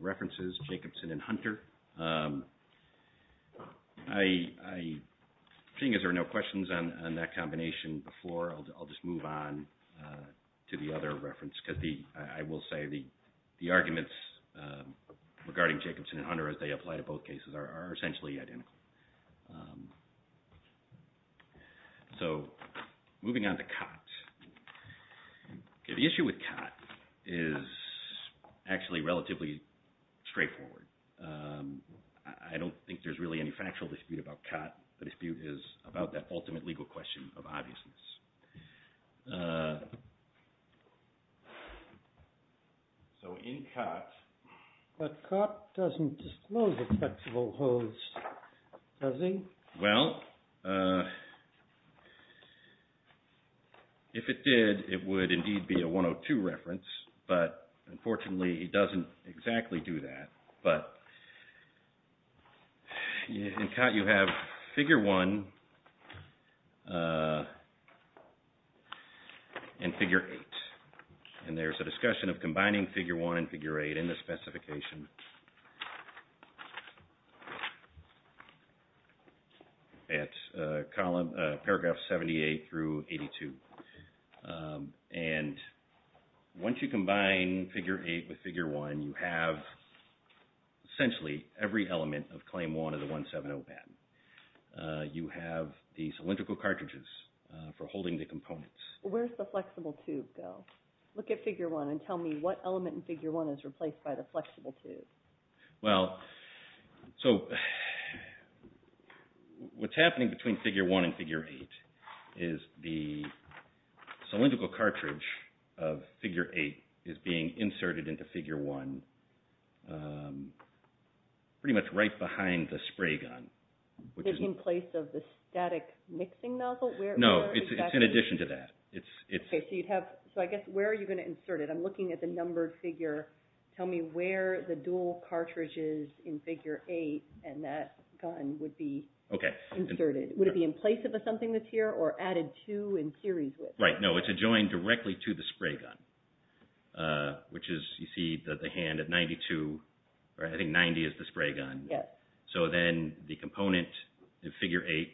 references Jacobson and Hunter. Seeing as there are no questions on that combination before, I'll just move on to the other reference because I will say the arguments regarding Jacobson and Hunter as they apply to both cases are essentially identical. So moving on to COT. The issue with COT is actually relatively straightforward. I don't think there's really any factual dispute about COT. The dispute is about that ultimate legal question of obviousness. So in COT... But COT doesn't disclose acceptable holds, does he? Well, if it did, it would exactly do that. But in COT you have figure 1 and figure 8. And there's a discussion of combining figure 1 and figure 8 in the specification at paragraphs 78 through 82. And once you combine figure 8 with figure 1, you have essentially every element of claim 1 of the 170 patent. You have the cylindrical cartridges for holding the components. Where's the flexible tube go? Look at figure 1 and tell me what element in figure 1 is replaced by the flexible tube. Well, so what's happening between figure 1 and figure 8 is the cylindrical cartridge of figure 8 is being inserted into figure 1 pretty much right behind the spray gun. Which is in place of the static mixing nozzle? No, it's in addition to that. Okay, so I guess where are you going to insert it? I'm assuming the cylindrical cartridge is in figure 8 and that gun would be inserted. Would it be in place of something that's here or added to in series with? Right, no, it's adjoined directly to the spray gun. Which is, you see, the hand at 92, or I think 90 is the spray gun. So then the component in figure 8,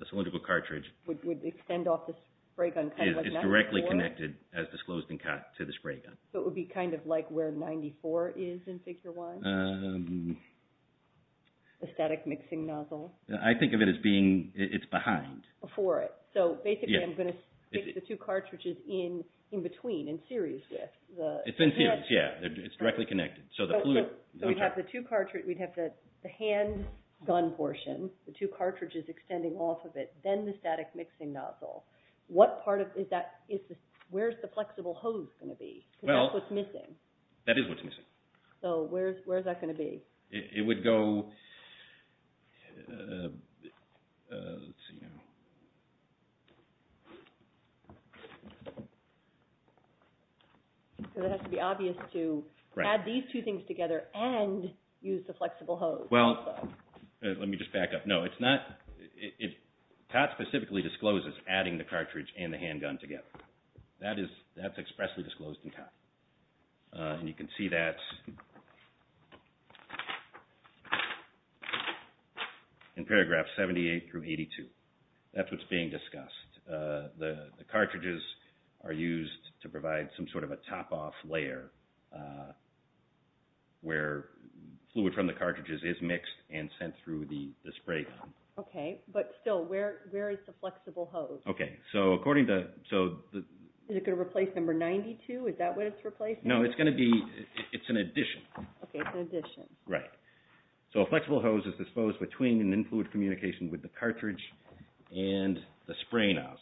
the cylindrical cartridge, would extend off the spray gun. It's directly connected as disclosed in figure 1. The static mixing nozzle. I think of it as being, it's behind. Before it. So basically I'm going to stick the two cartridges in between, in series with. It's in series, yeah, it's directly connected. So we'd have the two cartridges, we'd have the hand gun portion, the two cartridges extending off of it, then the static mixing nozzle. What part of, is that, where's the going to be? It would go, let's see now. Because it has to be obvious to add these two things together and use the flexible hose. Well, let me just back up. No, it's not, TOT specifically discloses adding the cartridge and the handgun together. That is in paragraph 78 through 82. That's what's being discussed. The cartridges are used to provide some sort of a top-off layer where fluid from the cartridges is mixed and sent through the spray gun. Okay, but still, where is the flexible hose? Okay, so according to, so. Is it going to replace number 92? Is that what it's replacing? No, it's going to be, it's an addition. Okay, it's an addition. Right. So a flexible hose is disposed between an in-fluid communication with the cartridge and the spray nozzle.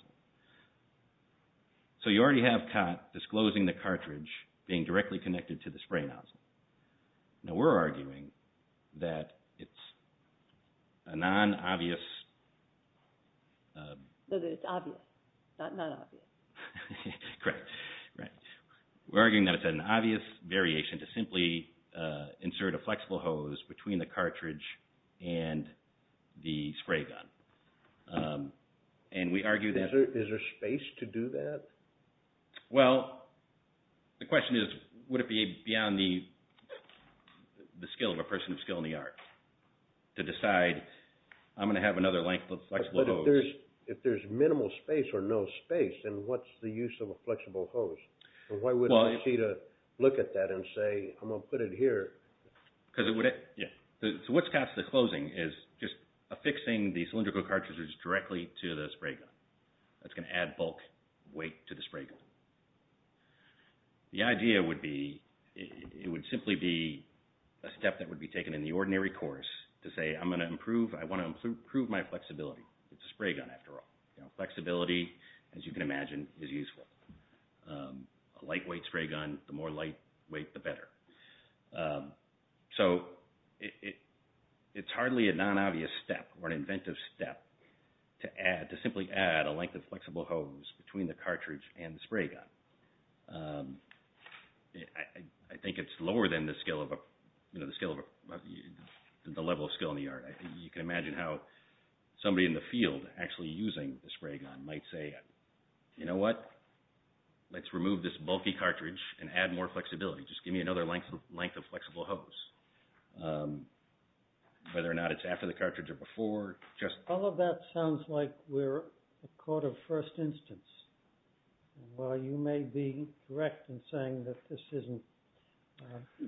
So you already have TOT disclosing the cartridge being directly connected to the spray nozzle. Now we're arguing that it's a non-obvious. That it's obvious, not obvious. Correct. Right. We're arguing that it's an obvious variation to simply insert a flexible hose between the cartridge and the spray gun. And we argue that. Is there space to do that? Well, the question is, would it be beyond the skill of a person of skill in the art to decide, I'm going to have another length of flexible hose. But if there's minimal space or no space, then what's the use of a flexible hose? Why would I need to look at that and say, I'm going to put it here? Because it would, yeah. So what's past the closing is just affixing the cylindrical cartridges directly to the spray gun. That's going to add bulk weight to the spray gun. The idea would be, it would simply be a step that would be taken in the ordinary course to say, I'm going to improve, I want to improve my flexibility. It's a spray gun after all. Flexibility, as you can imagine, is useful. A lightweight spray gun, the more lightweight, the better. So it's hardly a non-obvious step or an inventive step to simply add a length of flexible hose between the cartridge and the spray gun. I think it's lower than the level of skill in the art. You can imagine how somebody in the field actually using the spray gun might say, you know what? Let's remove this bulky cartridge and add more flexibility. Just give me another length of flexible hose. Whether or not it's after the cartridge or before. All of that sounds like we're a court of first instance. While you may be correct in saying that this isn't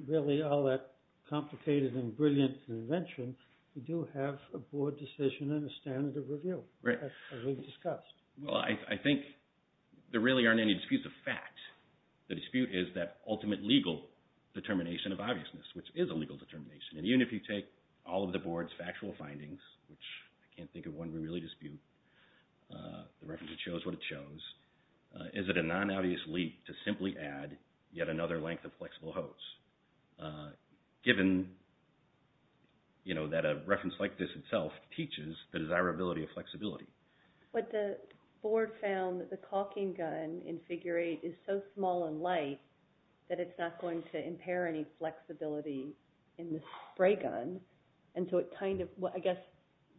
really all that complicated and brilliant of an invention, we do have a board decision and a standard of review, as we've discussed. Well, I think there really aren't any disputes of fact. The dispute is that ultimate legal determination of obviousness, which is a legal determination. And even if you take all of the board's factual findings, which I can't think of one we really dispute, the reference that shows what it shows, is it a non-obvious leap to simply add yet another length of flexible hose, given that a reference like this itself teaches the desirability of flexibility? But the board found that the caulking gun in figure eight is so small and light that it's not going to impair any flexibility in the spray gun. And so it kind of, I guess,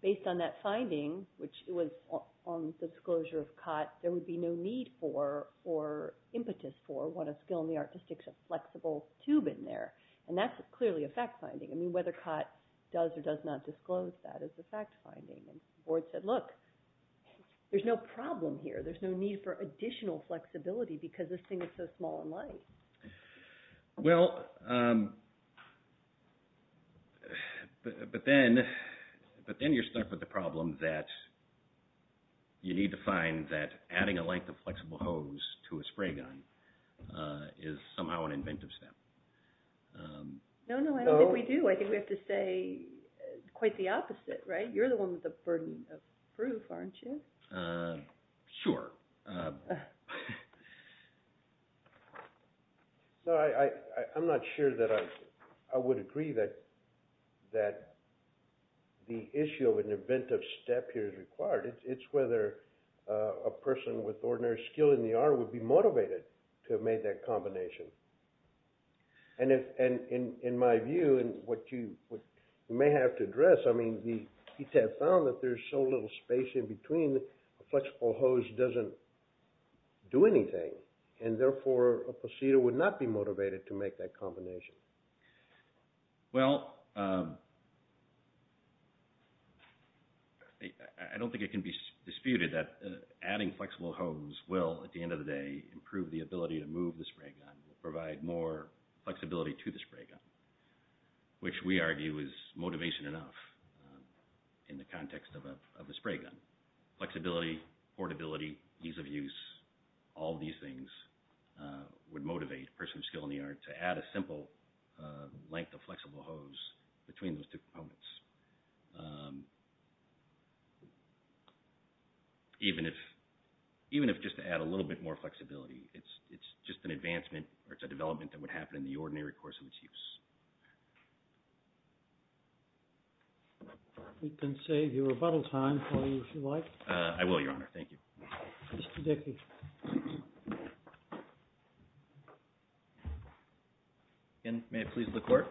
based on that finding, which was on disclosure of Cott, there would be no need for, or impetus for, what a skill in the art is to stick a flexible tube in there. And that's clearly a fact finding. I mean, whether Cott does or does not disclose that is a fact finding. And the board said, look, there's no problem here. There's no need for additional flexibility because this thing is so small and light. Well, but then you're stuck with the problem that you need to find that adding a length of flexible hose to a spray gun is somehow an inventive step. No, no, I don't think we do. I think we have to say quite the opposite, right? You're the one with the burden of proof, aren't you? Sure. No, I'm not sure that I would agree that the issue of an inventive step here is required. It's whether a person with ordinary skill in the art would be motivated to have made that combination. And in my view, and what you may have to address, I mean, the ETF found that there's so little space in between, a flexible hose doesn't do anything. And therefore, a procedure would not be motivated to make that combination. Well, I don't think it can be disputed that adding flexible hose will, at the end of the day, improve the ability to move the spray gun, will provide more flexibility to the spray gun, which we argue is motivation enough in the context of a spray gun. Flexibility, portability, ease of use, all these things would motivate a person with skill in the art to add a simple length of flexible hose between those two components. Even if just to add a little bit more flexibility, it's just an advancement or it's a development that would happen in the ordinary course of its use. We can save your rebuttal time for you, if you like. I will, Your Honor. Thank you. Mr. Dickey. May it please the Court?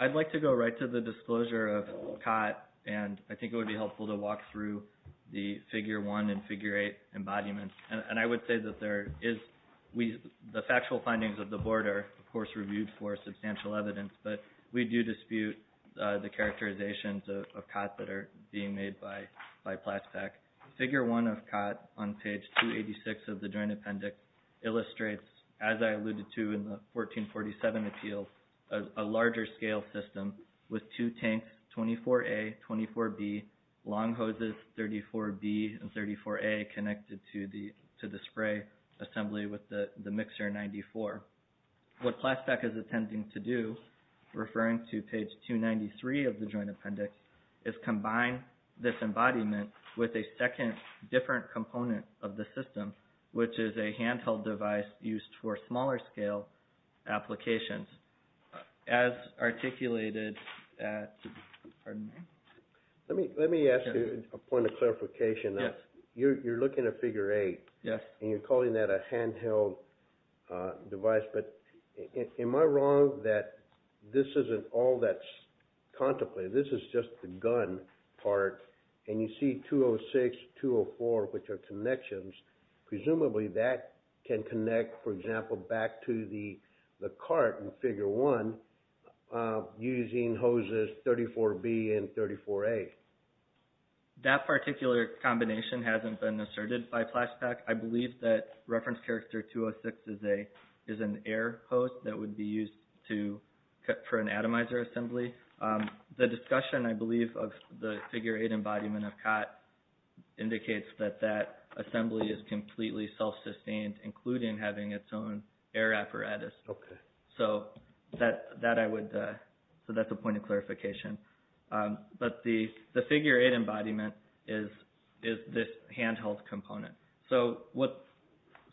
I'd like to go right to the disclosure of COT, and I think it would be helpful to walk through the figure one and figure eight embodiments. And I would say that the factual findings of the Board are, of course, reviewed for substantial evidence, but we do dispute the characterizations of COT that are being made by PLASPAC. Figure one of COT on page 286 of the Joint Appendix illustrates, as I alluded to in the 1447 appeal, a larger scale system with two tanks, 24A, 24B, long hoses, 34B, and 34A, connected to the spray assembly with the mixer 94. What PLASPAC is attempting to do, referring to page 293 of the Joint Appendix, is combine this embodiment with a second, different component of the system, which is a handheld device used for smaller scale applications. As articulated at – pardon me? Let me ask you a point of clarification. You're looking at figure eight, and you're calling that a handheld device, but am I wrong that this isn't all that's contemplated? This is just the gun part, and you see 206, 204, which are connections. Presumably that can connect, for example, back to the cart in figure one using hoses 34B and 34A. That particular combination hasn't been asserted by PLASPAC. I believe that reference character 206 is an air hose that would be used for an atomizer assembly. The discussion, I believe, of the figure eight embodiment of COT indicates that that assembly is completely self-sustained, including having its own air apparatus. So that's a point of clarification. But the figure eight embodiment is this handheld component. So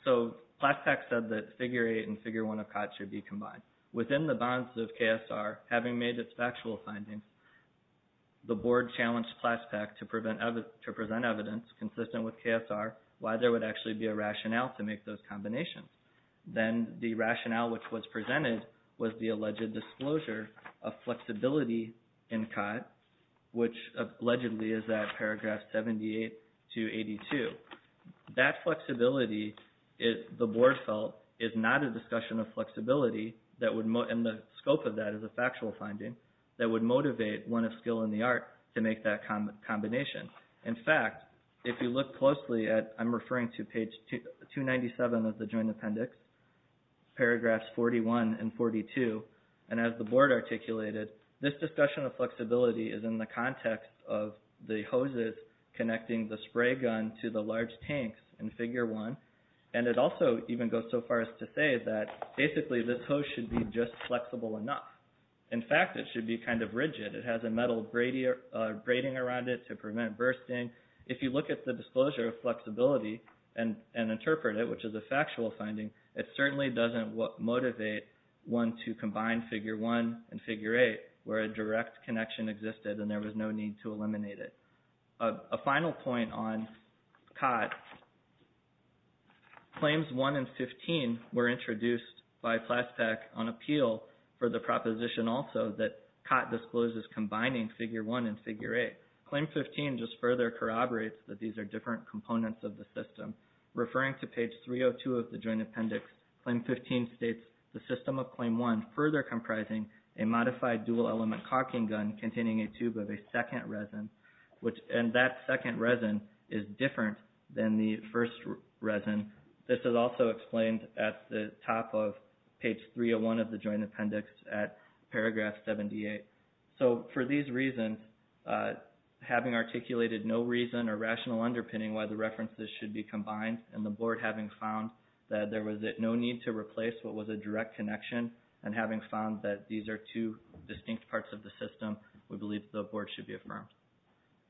PLASPAC said that figure eight and figure one of COT should be combined. Within the bonds of KSR, having made its factual findings, the board challenged PLASPAC to present evidence consistent with KSR why there would actually be a rationale to make those combinations. Then the rationale which was presented was the alleged disclosure of flexibility in COT, which allegedly is at paragraphs 78 to 82. That flexibility, the board felt, is not a discussion of flexibility, and the scope of that is a factual finding, that would motivate one of skill and the art to make that combination. In fact, if you look closely at, I'm referring to page 297 of the joint appendix, paragraphs 41 and 42, and as the board articulated, this discussion of flexibility is in the context of the hoses connecting the spray gun to the large tanks in figure one. And it also even goes so far as to say that basically this hose should be just flexible enough. In fact, it should be kind of rigid. It has a metal braiding around it to prevent bursting. If you look at the disclosure of flexibility and interpret it, which is a factual finding, it certainly doesn't motivate one to combine figure one and figure eight where a direct connection existed and there was no need to eliminate it. A final point on COT, claims one and 15 were introduced by PLASPAC on appeal for the proposition also that COT discloses combining figure one and figure eight. Claim 15 just further corroborates that these are different components of the system. Referring to page 302 of the joint appendix, claim 15 states the system of claim one further comprising a modified dual element caulking gun containing a tube of a second resin, and that second resin is different than the first resin. This is also explained at the top of page 301 of the joint appendix at paragraph 78. So for these reasons, having articulated no reason or rational underpinning why the references should be combined and the board having found that there was no need to replace what was a direct connection and having found that these are two distinct parts of the system, we believe the board should be affirmed.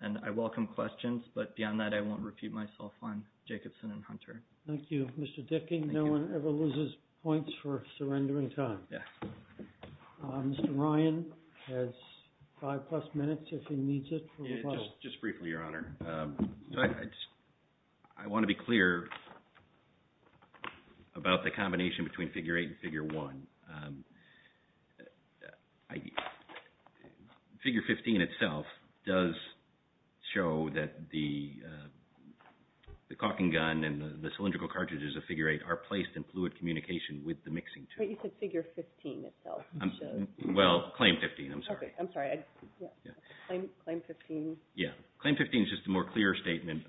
And I welcome questions, but beyond that, I won't repeat myself on Jacobson and Hunter. Thank you, Mr. Dicking. No one ever loses points for surrendering time. Mr. Ryan has five plus minutes if he needs it. Just briefly, Your Honor. I want to be clear about the combination between figure eight and figure one. Figure 15 itself does show that the caulking gun and the cylindrical cartridges of figure eight are placed in fluid communication with the mixing tube. But you said figure 15 itself. Well, claim 15. I'm sorry. Okay. I'm sorry. Claim 15. Yeah. Claim 15 is just a more clear statement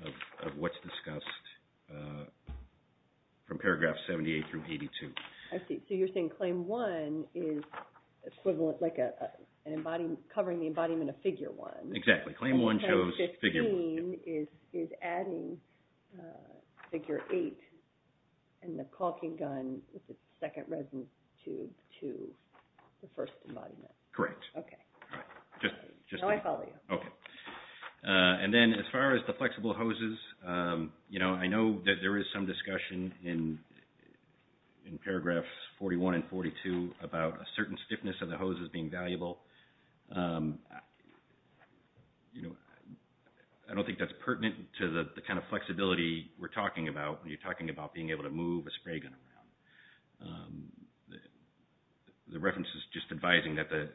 of what's discussed from paragraph 78 through 82. I see. So you're saying claim one is equivalent, like covering the embodiment of figure one. Exactly. Claim one shows figure one. Claim 15 is adding figure eight and the caulking gun with its second resin tube to the first embodiment. Correct. Now I follow you. And then as far as the flexible hoses, you know, I know that there is some discussion in paragraphs 41 and 42 about a certain stiffness of the hoses being valuable. You know, I don't think that's pertinent to the kind of flexibility we're talking about when you're talking about being able to move a spray gun around. The reference is just advising that the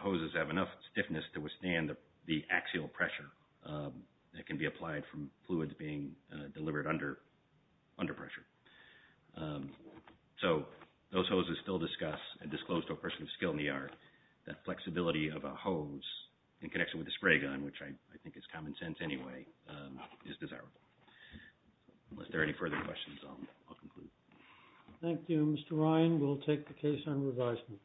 hoses have enough stiffness to withstand the axial pressure that can be applied from fluids being delivered under pressure. So those hoses still discuss and disclose to a person of skill in the art that flexibility of a hose in connection with a spray gun, which I think is common sense anyway, is desirable. Unless there are any further questions, I'll conclude. Thank you, Mr. Ryan. We'll take the case on revisement.